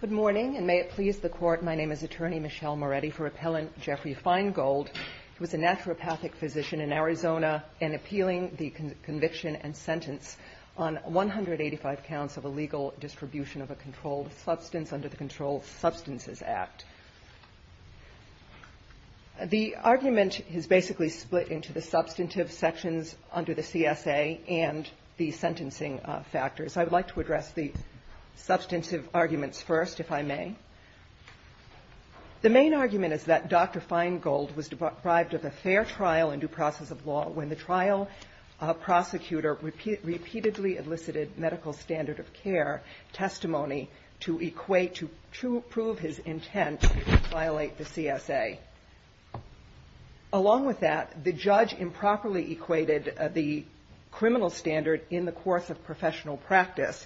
Good morning, and may it please the Court, my name is Attorney Michelle Moretti for Appellant Jeffrey Feingold. He was a naturopathic physician in Arizona and appealing the conviction and sentence on 185 counts of illegal distribution of a controlled substance under the Controlled Substances Act. The argument is basically split into the substantive sections under the CSA and the sentencing factors. I would like to address the substantive arguments first, if I may. The main argument is that Dr. Feingold was deprived of a fair trial and due process of law when the trial prosecutor repeatedly elicited medical standard of care testimony to prove his intent to violate the CSA. Along with that, the judge improperly violated the criminal standard in the course of professional practice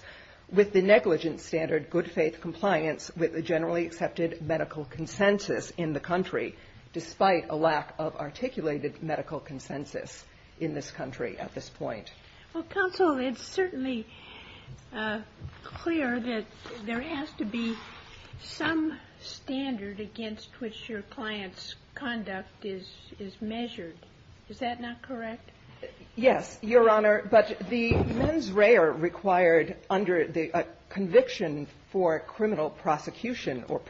with the negligent standard good faith compliance with the generally accepted medical consensus in the country, despite a lack of articulated medical consensus in this country at this point. Well, counsel, it's certainly clear that there has to be some standard against which your client's conduct is measured. Is that not correct? Yes, Your Honor. But the mens rea required under the conviction for criminal prosecution or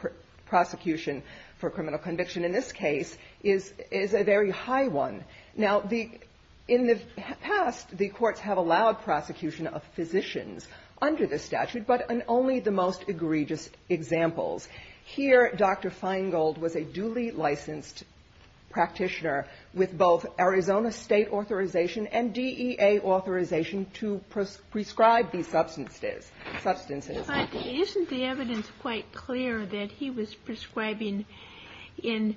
prosecution for criminal conviction in this case is a very high one. Now, in the past, the courts have allowed prosecution of physicians under this statute, but only the most egregious examples. Here, Dr. Feingold was a duly licensed practitioner with both Arizona State authorization and DEA authorization to prescribe these substances. But isn't the evidence quite clear that he was prescribing in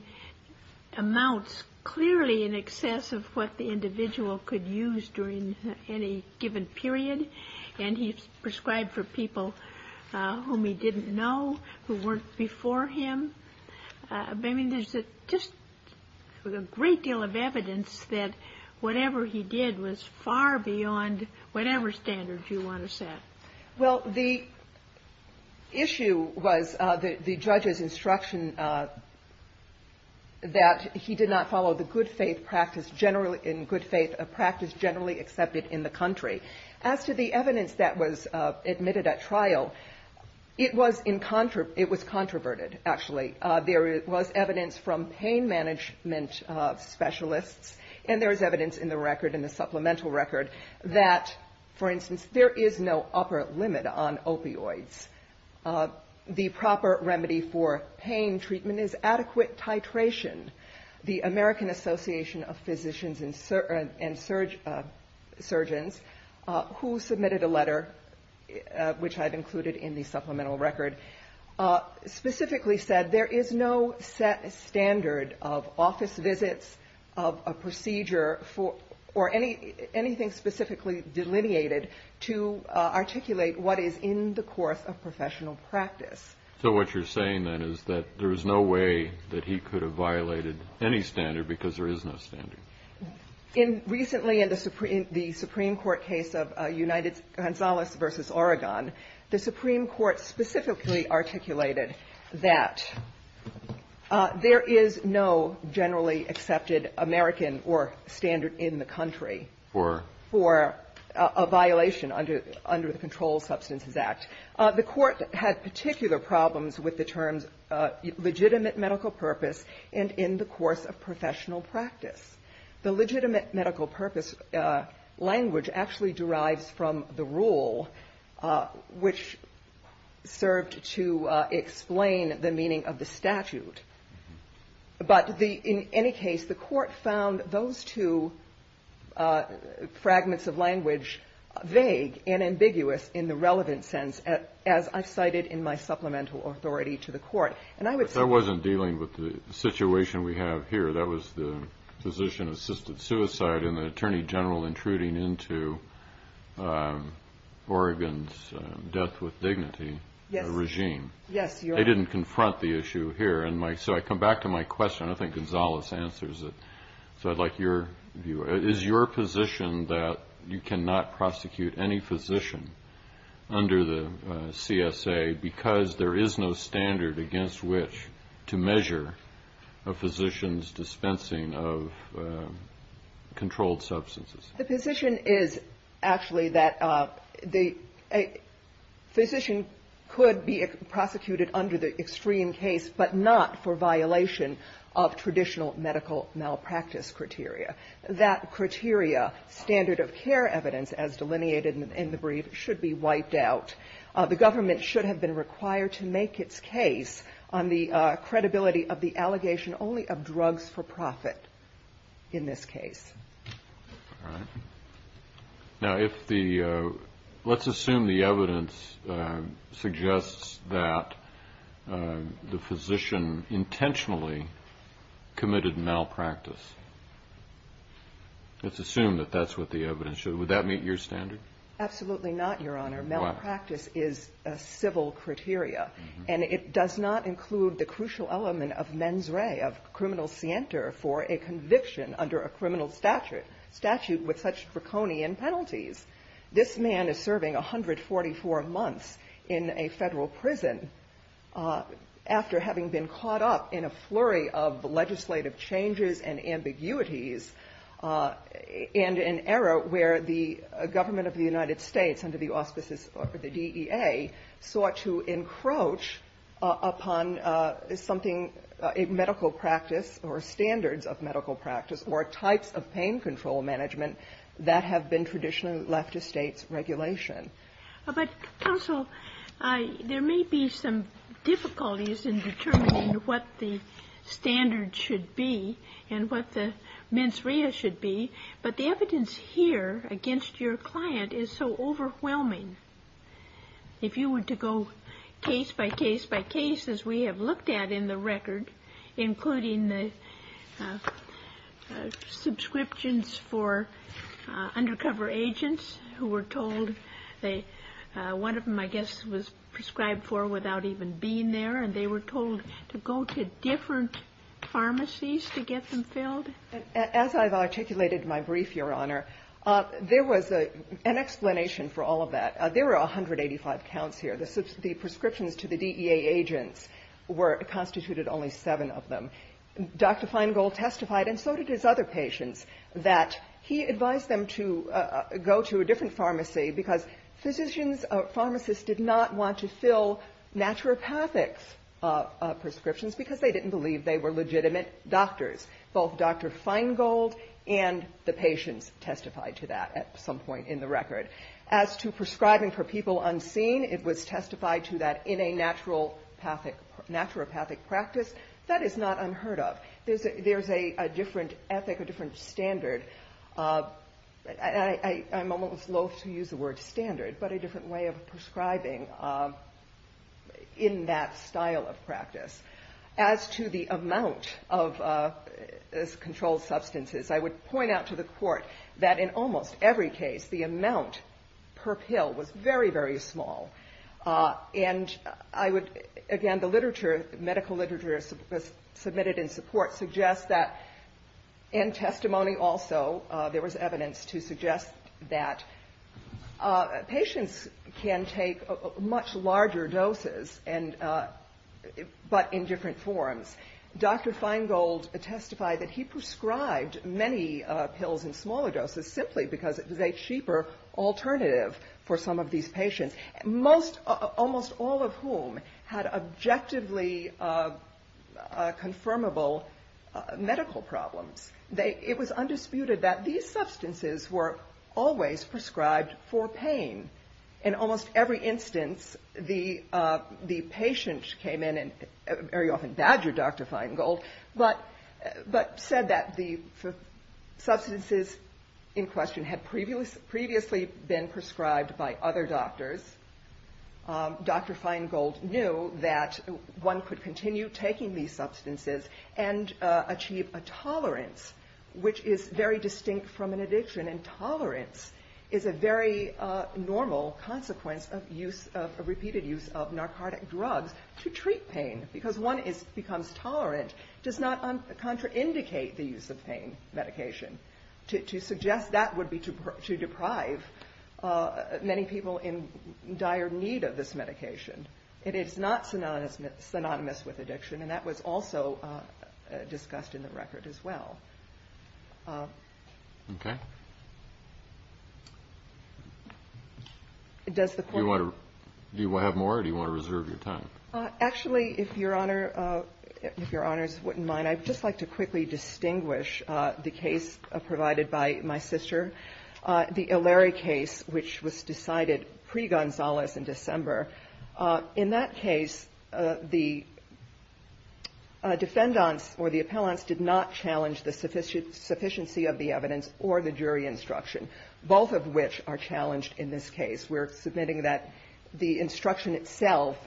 amounts clearly in excess of what the individual could use during any given period? And he prescribed for people whom he didn't know, who weren't before him. I mean, there's just a great deal of evidence that whatever he did was far beyond whatever standard you want to set. Well, the issue was the judge's instruction that he did not follow the good faith practice generally in good faith practice generally accepted in the country. As to the evidence that was admitted at trial, it was controverted, actually. There was evidence from pain management specialists, and there's evidence in the record, in the supplemental record, that, for instance, there is no upper limit on opioids. The proper remedy for pain treatment is adequate titration. The American Association of Physicians and Surgeons, who submitted a letter, which I've included in the supplemental record, specifically said there is no set standard of office visits, of a procedure, or anything specifically delineated to articulate what is in the course of professional practice. So what you're saying, then, is that there is no way that he could have violated any standard because there is no standard? Recently in the Supreme Court case of Gonzales v. Oregon, the Supreme Court specifically articulated that there is no generally accepted American or standard in the country for a problem with the terms legitimate medical purpose and in the course of professional practice. The legitimate medical purpose language actually derives from the rule, which served to explain the meaning of the statute. But in any case, the court found those two fragments of language vague and ambiguous in the relevant sense, as I've cited in my supplemental authority to the court. I wasn't dealing with the situation we have here. That was the physician-assisted suicide and the attorney general intruding into Oregon's death with dignity regime. They didn't confront the issue here. So I come back to my question. I think Gonzales answers it. So I'd like your view. Is your position that you cannot prosecute any physician under the CSA because there is no standard against which to measure a physician's dispensing of controlled substances? The position is actually that a physician could be prosecuted under the extreme case, but not for violation of traditional medical malpractice criteria. That criteria, standard of care evidence, as delineated in the brief, should be wiped out. The government should have been required to make its case on the credibility of the allegation only of drugs for profit in this case. All right. Now, if the ‑‑ let's assume the evidence suggests that the physician, intentionally, committed malpractice. Let's assume that that's what the evidence says. Would that meet your standard? Absolutely not, Your Honor. Malpractice is a civil criteria, and it does not include the crucial element of mens re, of criminal scienter, for a conviction under a criminal statute with such draconian penalties. This man is serving 144 months in a federal prison after having been caught up in a flurry of legislative changes and ambiguities, and an era where the government of the United States, under the auspices of the DEA, sought to encroach upon something, a medical practice or standards of medical practice or types of pain control management that have been traditionally left to states' regulation. But, counsel, there may be some difficulties in determining what the standard should be and what the mens rea should be, but the evidence here against your client is so overwhelming. If you were to go case by case by case, as we have looked at in the record, including the subscriptions for undercover agents who were told they, one of them I guess was prescribed for without even being there, and they were told to go to different pharmacies to get them filled. As I've articulated in my brief, Your Honor, there was an explanation for all of that. There were 185 counts here. The prescriptions to the DEA agents were, constituted only seven of them. Dr. Feingold testified, and so did his other patients, that he advised them to go to a different pharmacy because physicians or pharmacists did not want to fill naturopathic prescriptions because they didn't believe they were legitimate doctors. Both Dr. Feingold and the patients testified to that at some point in the record. As to prescribing for people unseen, it was testified to that in a naturopathic practice that is not unheard of. There's a different ethic, a different standard. I'm almost loathe to use the word standard, but a different way of prescribing in that style of practice. As to the amount of controlled substances, I would point out to the Court that in almost every case, the amount per pill was very, very small. And I would, again, the literature, medical literature submitted in support suggests that, and testimony also, there was evidence to suggest that patients can take much larger doses, but in different forms. Dr. Feingold testified that he prescribed many pills in most, almost all of whom had objectively confirmable medical problems. It was undisputed that these substances were always prescribed for pain. In almost every instance, the patient came in and very often badgered Dr. Feingold, but said that the substances in question had previously been prescribed by other doctors. Dr. Feingold knew that one could continue taking these substances and achieve a tolerance which is very distinct from an addiction, and tolerance is a very normal consequence of use, of repeated use of narcotic drugs to treat pain, because one becomes tolerant, does not contraindicate the use of pain medication. To suggest that would be to deprive many people in dire need of this medication. It is not synonymous with addiction, and that was also discussed in the record as well. Do you want to have more, or do you want to reserve your time? Actually, if your honors wouldn't mind, I'd just like to quickly distinguish the case provided by my sister, the Illary case, which was decided pre-Gonzalez in December. In that case, the defendants or the appellants did not challenge the sufficiency of the evidence or the jury instruction, both of which are challenged in this case. We're submitting that the instruction itself,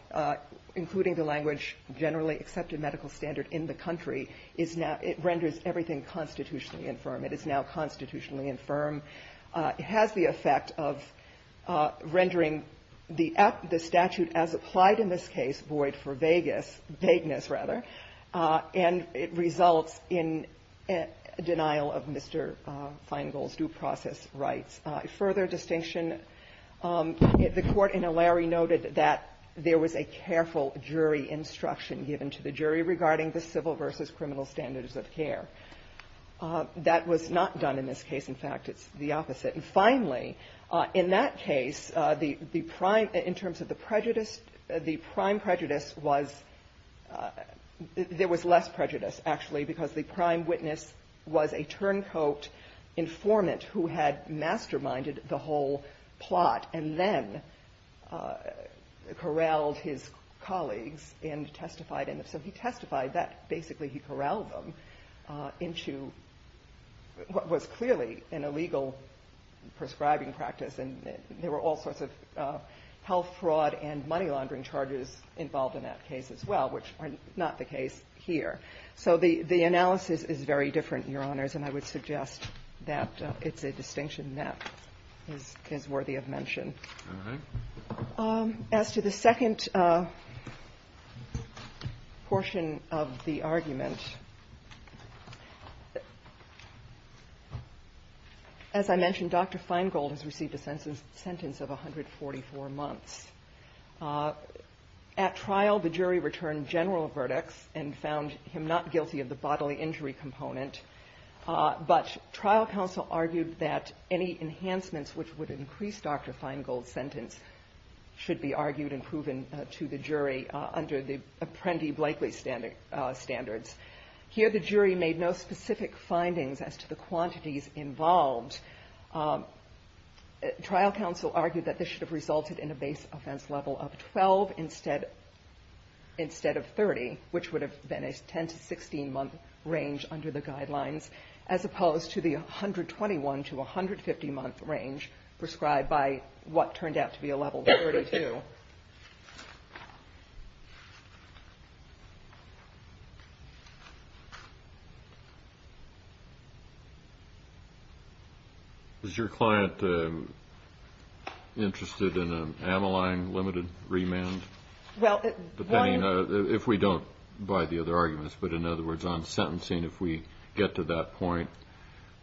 including the language generally accepted medical standard in the country, is now – it renders everything constitutionally infirm. It is now constitutionally infirm. It has the effect of rendering the statute as applied in this case void for vagueness, rather, and it results in denial of Mr. Feingold's due process rights. Further distinction, the Court in Illary noted that there was a careful jury instruction given to the jury regarding the civil versus criminal standards of care. That was not done in this case. In fact, it's the opposite. And finally, in that case, the prime – in terms of the prejudice, the prime prejudice was – there was less prejudice, actually, because the prime witness was a turncoat informant who had masterminded the whole plot and then corralled his colleagues and testified in it. So he testified that. Basically, he corralled them into what was clearly an illegal prescribing practice, and there were all sorts of health fraud and money laundering charges involved in that case as well, which are not the case here. So the analysis is very different, Your Honors, and I would suggest that it's a distinction that is worthy of mention. As to the second portion of the argument, as I mentioned, Dr. Feingold has received a sentence of 144 months. At trial, the jury returned general verdicts and found him not guilty of the bodily injury component, but trial counsel argued that any enhancements which would increase Dr. Feingold's sentence should be argued and proven to the jury under the Apprendi-Blakely standards. Here, the jury made no specific findings as to the quantities involved. Trial counsel argued that this should have resulted in a base offense level of 12 instead of 30, which would have been a 10- to 16-month range under the guidelines, as prescribed by what turned out to be a level 32. Is your client interested in an amyline limited remand? If we don't buy the other arguments, but in other words, on sentencing, if we get to that point,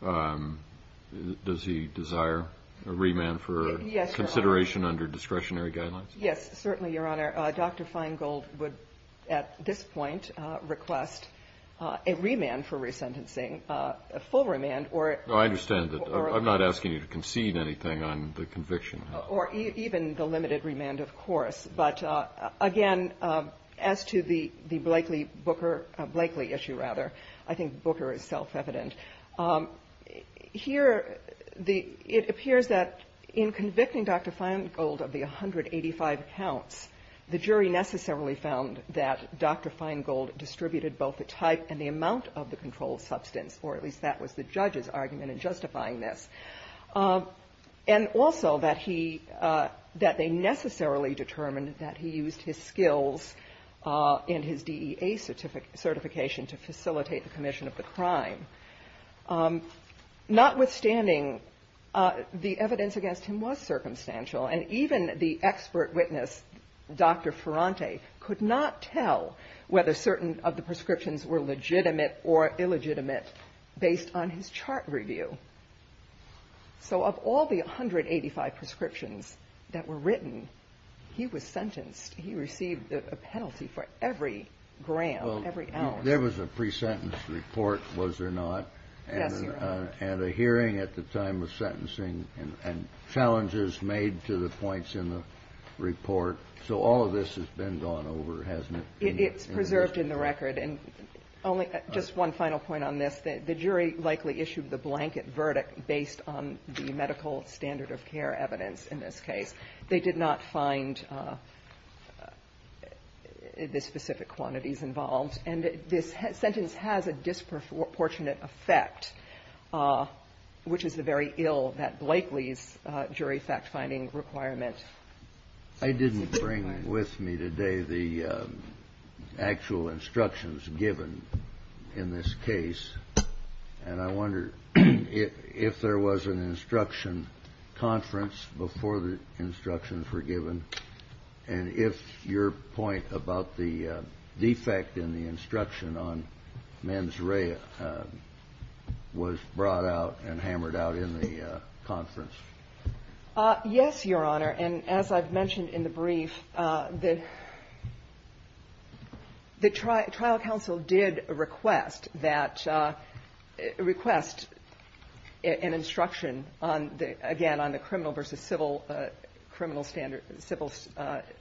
does he desire a remand for consideration under discretionary guidelines? Yes, certainly, Your Honor. Dr. Feingold would, at this point, request a remand for resentencing, a full remand, or a full remand. I understand that. I'm not asking you to concede anything on the conviction. Or even the limited remand, of course. But again, as to the Blakely issue, I think Booker is self-evident. Here, it appears that in convicting Dr. Feingold of the 185 counts, the jury necessarily found that Dr. Feingold distributed both the type and the amount of the controlled substance, or at least that was the judge's argument in justifying this, and also that they necessarily determined that he used his skills and his DEA certification to facilitate the commission of the crime. Notwithstanding, the evidence against him was circumstantial, and even the expert witness, Dr. Ferrante, could not tell whether certain of the prescriptions were legitimate or illegitimate based on his chart review. So of all the 185 prescriptions that were written, he was sentenced. He received a penalty for every gram, every ounce. There was a pre-sentence report, was there not? Yes, Your Honor. And a hearing at the time of sentencing, and challenges made to the points in the report. So all of this has been gone over, hasn't it? It's preserved in the record, and just one final point on this. The jury likely issued the blanket verdict based on the medical standard of care evidence in this case. They did not find the specific quantities involved, and this sentence has a disproportionate effect, which is the very ill that Blakely's jury fact-finding requirement. I didn't bring with me today the actual instructions given in this case, and I wondered if there was an instruction conference before the instructions were given, and if your point about the defect in the instruction on mens rea was brought out and hammered out in the conference. Yes, Your Honor. And as I've mentioned in the brief, the trial counsel did request that, request an instruction on the, again, on the criminal versus civil, criminal standard, civil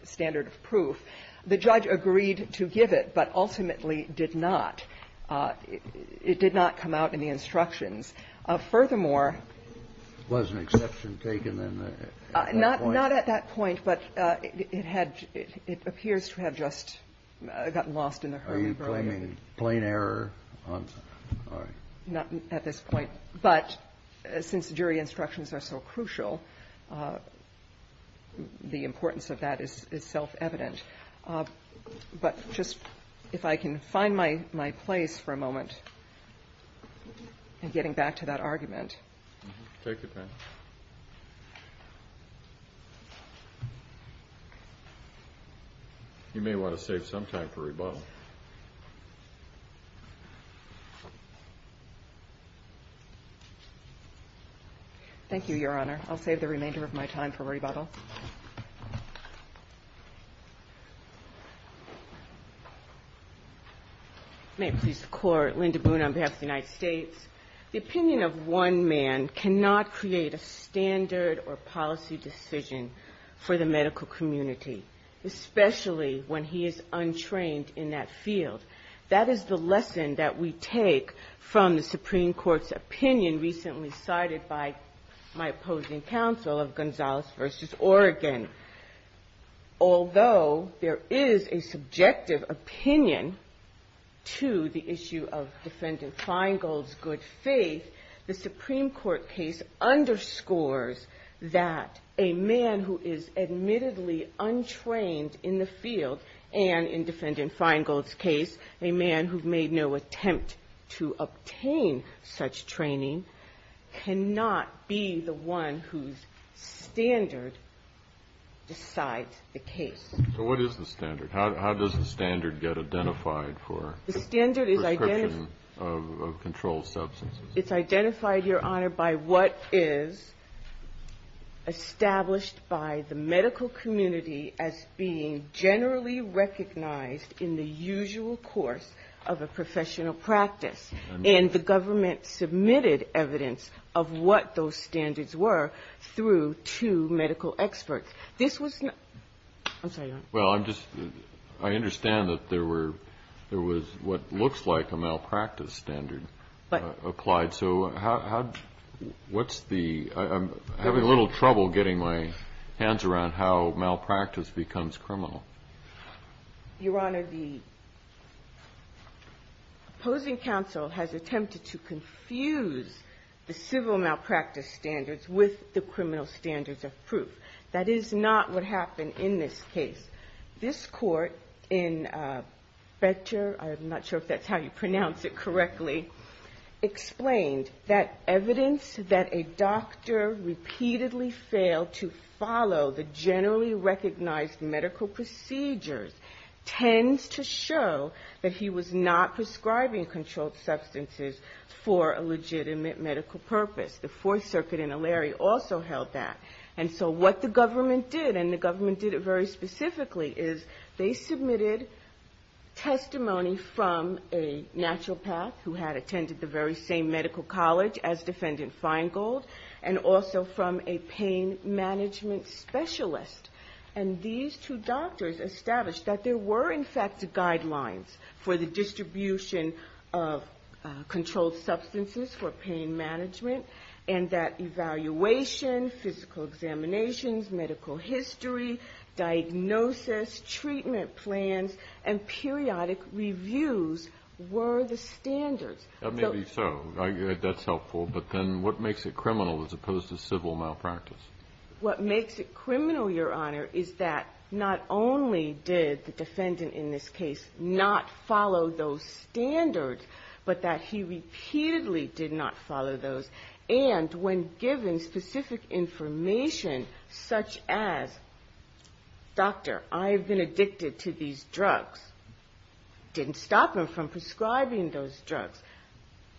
standard of proof. The judge agreed to give it, but ultimately did not. It did not come out in the instructions. Furthermore -- Was an exception taken at that point? Not at that point, but it had, it appears to have just gotten lost in the Herman-Burman. Are you claiming plain error on the, all right. Not at this point, but since jury instructions are so crucial, the importance of that is self-evident. But just if I can find my place for a moment in getting back to the jury and getting back to that argument. Take your time. You may want to save some time for rebuttal. Thank you, Your Honor. I'll save the remainder of my time for rebuttal. May it please the Court, Linda Boone on behalf of the United States. The opinion of one man cannot create a standard or policy decision for the medical community, especially when he is untrained in that field. That is the lesson that we take from the Supreme Court's opinion recently cited by my opposing counsel of Gonzalez v. Oregon. Although there is a subjective opinion to the issue of Defendant Feingold's good faith, the Supreme Court case underscores that a man who is admittedly untrained in the field and in Defendant Feingold's case, a man who made no attempt to obtain such training, cannot be the one whose standard decides the case. So what is the standard? How does the standard get identified for prescription of controlled substances? The standard is identified, Your Honor, by what is established by the medical community as being generally recognized in the usual course of a professional practice. And the government submitted evidence of what those standards were through two medical experts. This was not ñ I'm sorry, Your Honor. Well, I'm just ñ I understand that there were ñ there was what looks like a malpractice standard applied. So how ñ what's the ñ I'm having a little trouble getting my hands around how malpractice becomes criminal. Your Honor, the opposing counsel has attempted to confuse the civil malpractice standards with the criminal standards of proof. That is not what happened in this case. This Court in Fetcher ñ I'm not sure if that's how you pronounce it correctly ñ explained that evidence that a doctor repeatedly failed to follow the generally recognized medical procedures tends to show that he was not prescribing controlled substances for a legitimate medical purpose. The Fourth Circuit in O'Leary also held that. And so what the government did, and the government did it very specifically, is they submitted testimony from a naturopath who had attended the very same medical college as Defendant Feingold, and also from a pain management specialist. And these two doctors established that there were, in fact, guidelines for the distribution of controlled substances for pain management, and that evaluation, physical examinations, medical history, diagnosis, treatment plans, and periodic reviews were the standards. Maybe so. That's helpful. But then what makes it criminal as opposed to civil malpractice? What makes it criminal, Your Honor, is that not only did the defendant in this case not follow those standards, but that he repeatedly did not follow those. And when given specific information such as, ìDoctor, I've been addicted to these drugs.î It didn't stop him from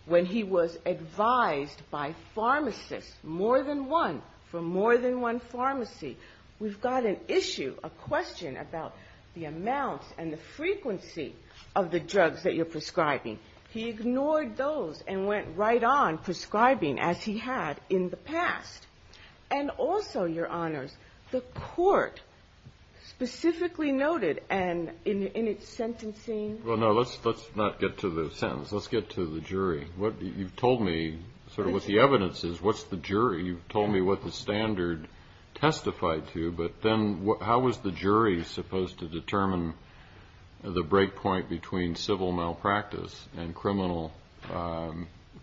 when he was advised by pharmacists, more than one, from more than one pharmacy, ìWe've got an issue, a question, about the amounts and the frequency of the drugs that you're prescribing.î He ignored those and went right on prescribing as he had in the past. And also, Your Honors, the Court specifically noted, and in its sentencing Well, no, let's not get to the sentence. Let's get to the jury. You've told me sort of what the evidence is. What's the jury? You've told me what the standard testified to. But then how was the jury supposed to determine the breakpoint between civil malpractice and criminal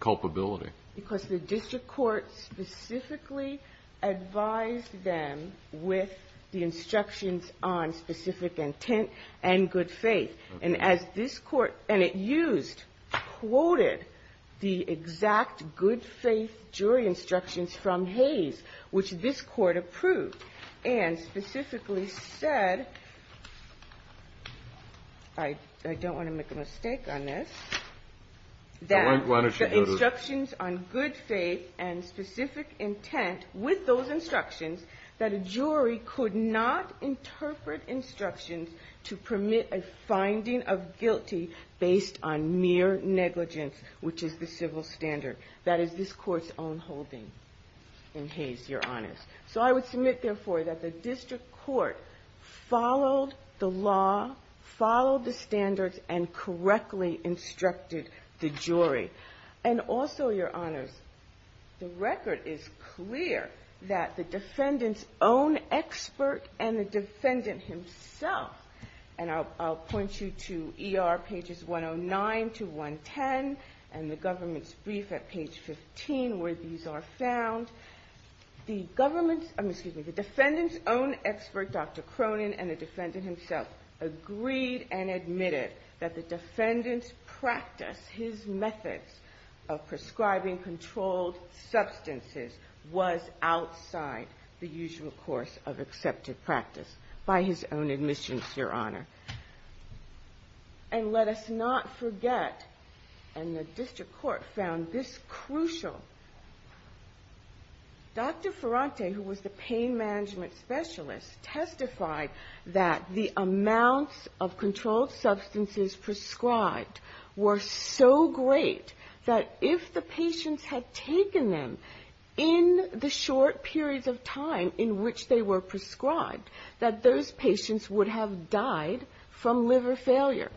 culpability? Because the district court specifically advised them with the instructions on specific intent and good faith. And as this Court, and it used, quoted the exact good faith jury instructions from Hayes, which this Court approved, and specifically said, I don't want to make a mistake on this, that the instructions on good faith and specific intent with those instructions to permit a finding of guilty based on mere negligence, which is the civil standard. That is this Court's own holding in Hayes, Your Honors. So I would submit, therefore, that the district court followed the law, followed the standards, and correctly instructed the jury. And also, Your Honors, the record is clear that the defendant himself, and I'll point you to ER pages 109 to 110, and the government's brief at page 15, where these are found. The government's, excuse me, the defendant's own expert, Dr. Cronin, and the defendant himself, agreed and admitted that the defendant's practice, his methods of prescribing controlled substances, was outside the usual course of accepted practice by his own admissions, Your Honor. And let us not forget, and the district court found this crucial, Dr. Ferrante, who was the pain management specialist, testified that the amounts of controlled substances prescribed were so great that if the patients had taken them in the short periods of time in which they were prescribed, that those patients would have died from liver failure.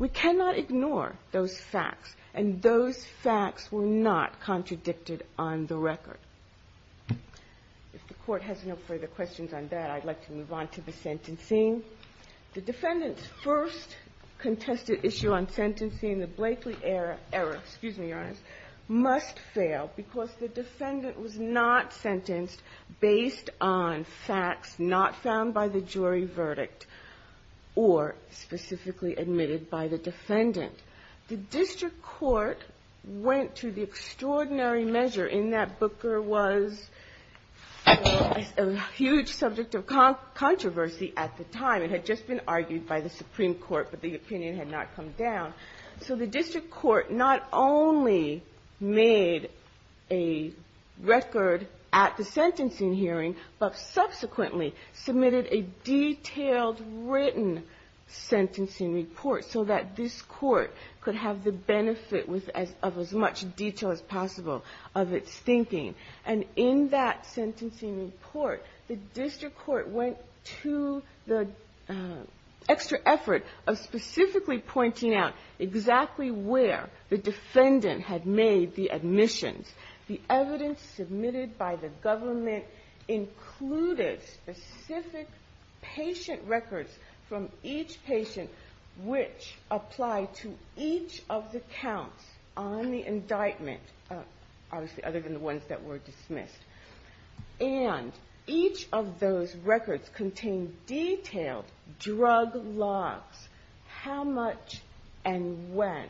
We cannot ignore those facts, and those facts were not contradicted on the record. If the Court has no further questions on that, I'd like to move on to the sentencing. The defendant's first contested issue on sentencing, the Blakely error, excuse me, Your Honors, must fail because the defendant was not sentenced based on facts not found by the jury verdict, or specifically admitted by the defendant. The district court went to the extraordinary measure in that Booker was a huge subject of controversy at the time. It had just been made a record at the sentencing hearing, but subsequently submitted a detailed written sentencing report so that this Court could have the benefit of as much detail as possible of its thinking. And in that sentencing report, the district court went to the extra effort of specifically pointing out exactly where the defendant had made the admissions. The evidence submitted by the government included specific patient records from each patient which applied to each of the counts on the indictment, obviously other than the ones that were dismissed. And each of those records contained detailed drug logs. And each of those records contained detailed drug logs. How much and when.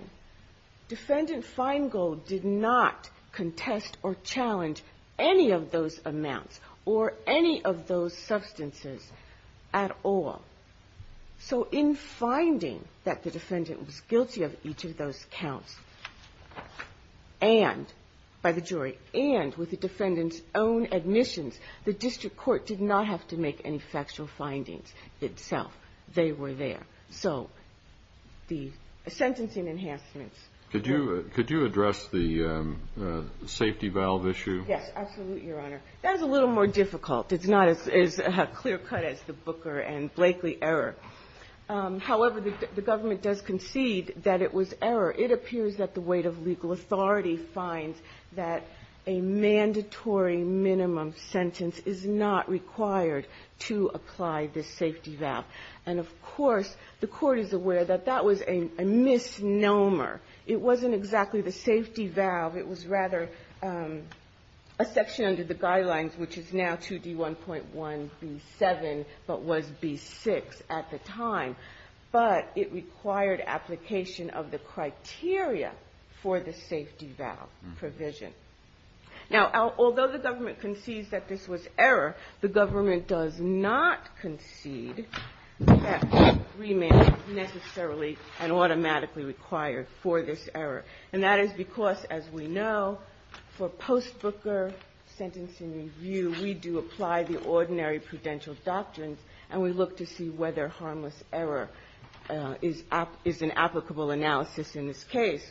Defendant Feingold did not contest or challenge any of those amounts or any of those substances at all. So in finding that the defendant was guilty of each of those counts, and by the jury, and with the defendant's own admissions, the district court did not have to make any factual findings itself. They were there. So the sentencing enhancements. Could you address the safety valve issue? Yes, absolutely, Your Honor. That is a little more difficult. It's not as clear-cut as the Booker and Blakely error. However, the government does concede that it was error. It appears that the weight of legal authority finds that a mandatory minimum sentence is not required to apply the safety valve. And, of course, the Court is aware that that was a misnomer. It wasn't exactly the safety valve. It was rather a section under the guidelines which is now 2D1.1b7, but was b6 at the time. But it required application of the criteria for the safety valve provision. Now, although the government concedes that this was error, the government does not concede that remand is necessarily and automatically required for this error. And that is because, as we know, for post-Booker sentencing review, we do apply the ordinary prudential doctrines, and we look to see whether harmless error is an applicable analysis in this case.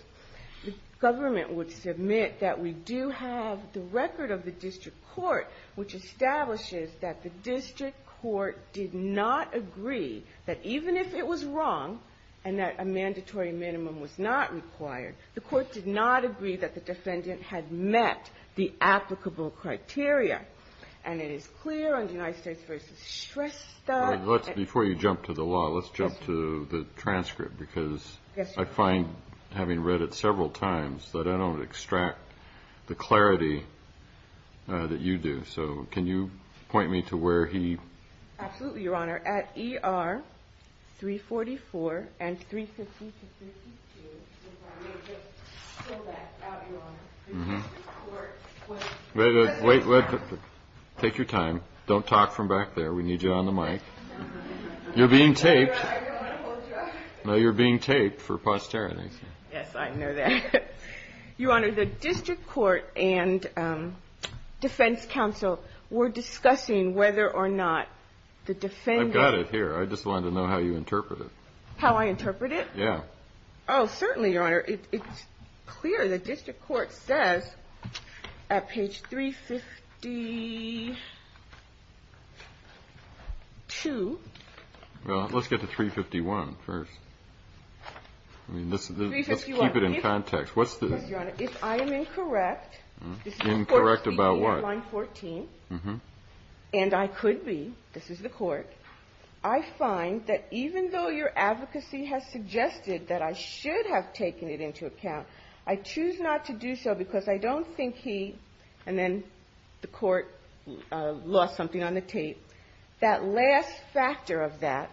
The government would submit that we do have the record of the district court, which establishes that the district court did not agree that even if it was wrong and that a mandatory minimum was not required, the court did not agree that the defendant had met the applicable criteria. And it is clear on the United States v. Shrestha that the court did not agree that at several times, that I don't extract the clarity that you do. So can you point me to where he... Absolutely, Your Honor. At ER 344 and 350-352, we just fill that out, Your Honor. Wait, wait, wait. Take your time. Don't talk from back there. We need you on the mic. You're being taped. I don't want to hold you up. No, you're being taped for posterity. Yes, I know that. Your Honor, the district court and defense counsel were discussing whether or not the defendant... I've got it here. I just wanted to know how you interpret it. How I interpret it? Yeah. Oh, certainly, Your Honor. It's clear. The district court says at page 352... Well, let's get to 351 first. I mean, let's keep it in context. What's the... Your Honor, if I am incorrect... Incorrect about what? This is court speaking in line 14, and I could be, this is the court, I find that even though your advocacy has suggested that I should have taken it into account, I choose not to do so because I don't think he, and then the court lost something on the tape, that last factor of that,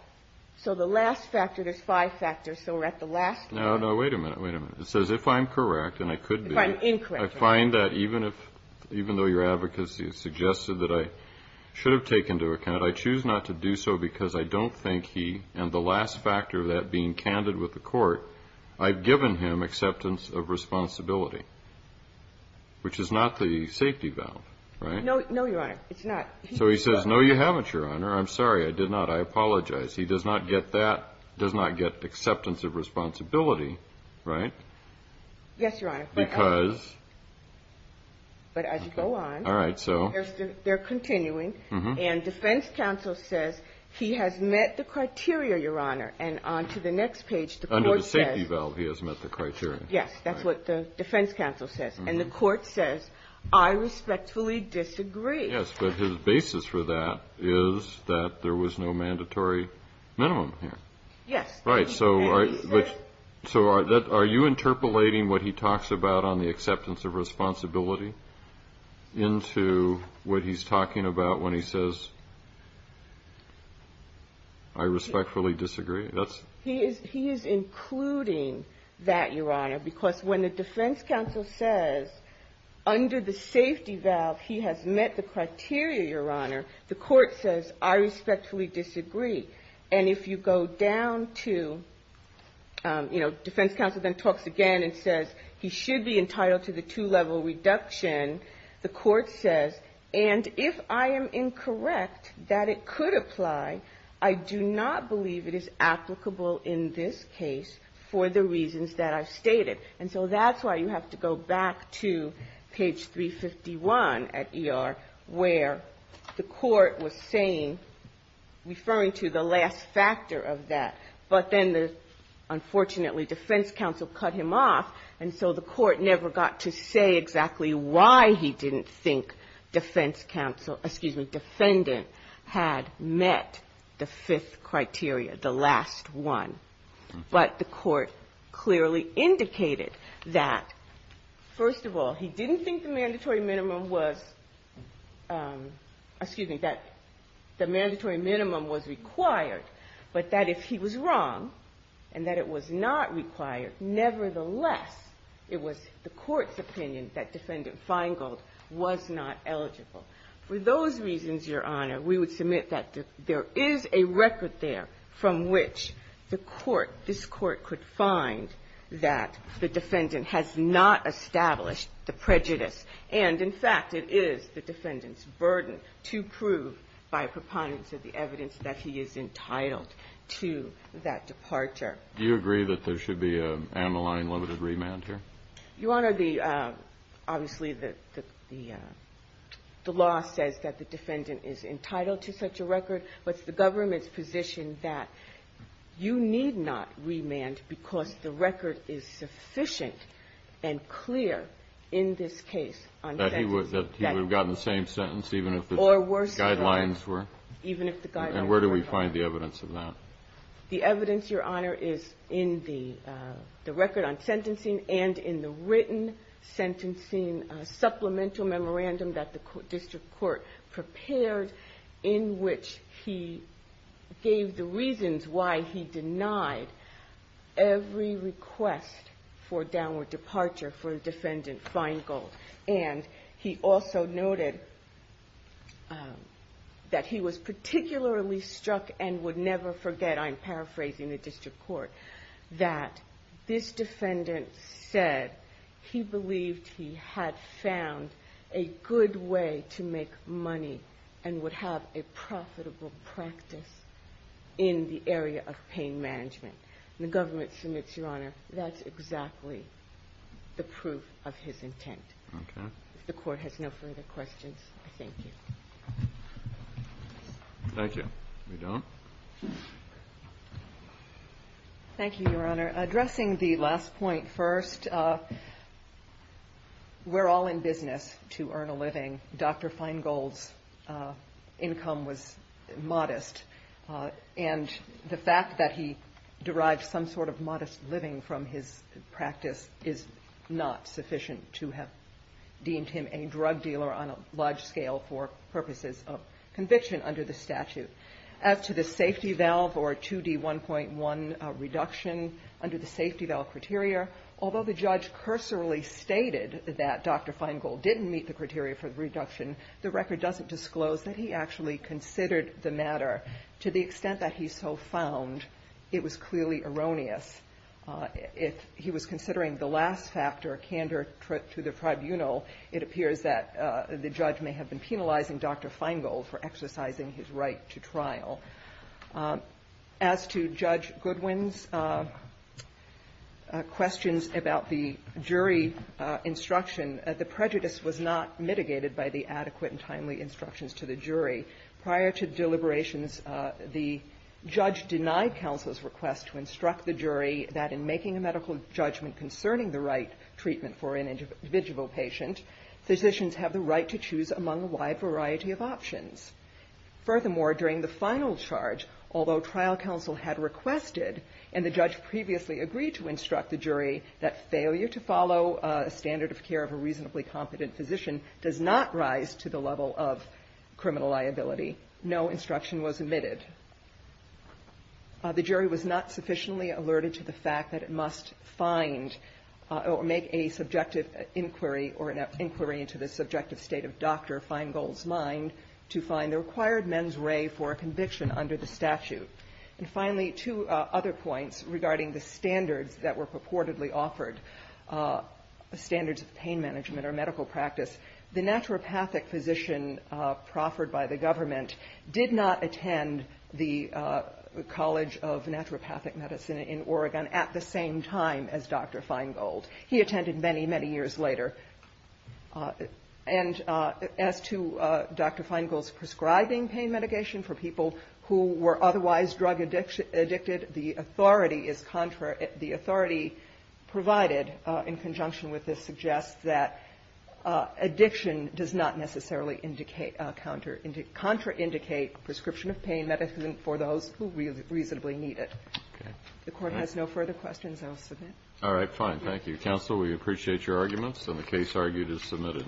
so the last factor, there's five factors, so we're at the last... No, no. Wait a minute. Wait a minute. It says if I'm correct, and I could be... If I'm incorrect. I find that even if, even though your advocacy has suggested that I should have taken into account, I choose not to do so because I don't think he, and the last factor of that being candid with the court, I've given him acceptance of responsibility, which is not the safety valve, right? No. No, Your Honor. It's not. So he says, no, you haven't, Your Honor. I'm sorry, I did not. I apologize. He does not get that, does not get acceptance of responsibility, right? Yes, Your Honor. Because... But as you go on... All right, so... They're continuing, and defense counsel says he has met the criteria, Your Honor, and on to the next page, the court says... Under the safety valve, he has met the criteria. Yes, that's what the defense counsel says, and the court says, I respectfully disagree. Yes, but his basis for that is that there was no mandatory minimum here. Yes. Right, so are you interpolating what he talks about on the acceptance of responsibility into what he's talking about when he says, I respectfully disagree? He is including that, Your Honor, because when the defense counsel says, under the safety valve, he has met the criteria, Your Honor, the court says, I respectfully disagree. And if you go down to, you know, defense counsel then talks again and says, he should be entitled to the two-level reduction, the court says, and if I am incorrect that it could apply, I do not believe it is applicable in this case for the reasons that I've stated. And so that's why you have to go back to page 351 at ER where the court was saying, referring to the last factor of that, but then the, unfortunately, defense counsel cut him off, and so the court never got to say exactly why he didn't think defense counsel, excuse me, defendant had met the fifth criteria, the last one. But the court clearly indicated that, first of all, he didn't think the mandatory minimum was, excuse me, that the mandatory minimum was required, but that if he was wrong and that it was not required, nevertheless, it was the court's opinion that defendant Feingold was not eligible. For those reasons, Your Honor, we would submit that there is a record there from which the court, this court, could find that the defendant has not established the prejudice and, in fact, it is the defendant's burden to prove by preponderance of the evidence that he is entitled to that departure. Do you agree that there should be a amyline limited remand here? Your Honor, the – obviously, the law says that the defendant is entitled to such a record, but it's the government's position that you need not remand because the record is sufficient and clear in this case on sentencing. That he would have gotten the same sentence, even if the guidelines were? Even if the guidelines were different. And where do we find the evidence of that? The evidence, Your Honor, is in the record on sentencing and in the written sentencing in a supplemental memorandum that the district court prepared in which he gave the reasons why he denied every request for downward departure for defendant Feingold. And he also noted that he was particularly struck and would never forget, I'm paraphrasing the district court, that this defendant said he believed he had found a good way to make money and would have a profitable practice in the area of pain management. And the government submits, Your Honor, that's exactly the proof of his intent. Okay. If the court has no further questions, I thank you. Thank you. We don't? Thank you, Your Honor. Addressing the last point first, we're all in business to earn a living. Dr. Feingold's income was modest. And the fact that he derived some sort of modest living from his practice is not sufficient to have deemed him a drug dealer on a large scale for purposes of conviction under the statute. As to the safety valve or 2D1.1 reduction under the safety valve criteria, although the judge cursorily stated that Dr. Feingold didn't meet the criteria for the reduction, the record doesn't disclose that he actually considered the matter to the extent that he so found it was clearly erroneous. If he was considering the last factor, candor to the tribunal, it appears that the judge may have been penalizing Dr. Feingold for exercising his right to trial. As to Judge Goodwin's questions about the jury instruction, the prejudice was not mitigated by the adequate and timely instructions to the jury. Prior to deliberations, the judge denied counsel's request to instruct the jury that in making a medical judgment concerning the right treatment for an individual patient, physicians have the right to choose among a wide variety of options. Furthermore, during the final charge, although trial counsel had requested and the judge previously agreed to instruct the jury that failure to follow a standard of care of a reasonably competent physician does not rise to the level of criminal liability, no instruction was omitted. The jury was not sufficiently alerted to the fact that it must find or make a subjective inquiry or an inquiry into the subjective state of Dr. Feingold's mind to find the required mens re for a conviction under the statute. And finally, two other points regarding the standards that were purportedly offered, standards of pain management or medical practice. The naturopathic physician proffered by the government did not attend the College of Naturopathic Medicine in Oregon at the same time as Dr. Feingold. He attended many, many years later. And as to Dr. Feingold's prescribing pain mitigation for people who were otherwise drug-addicted, the authority is contrary. The authority provided in conjunction with this suggests that addiction does not necessarily indicate or contraindicate prescription of pain medicine for those who reasonably need it. If the Court has no further questions, I will submit. All right. Fine. Thank you. Counsel, we appreciate your arguments, and the case argued is submitted.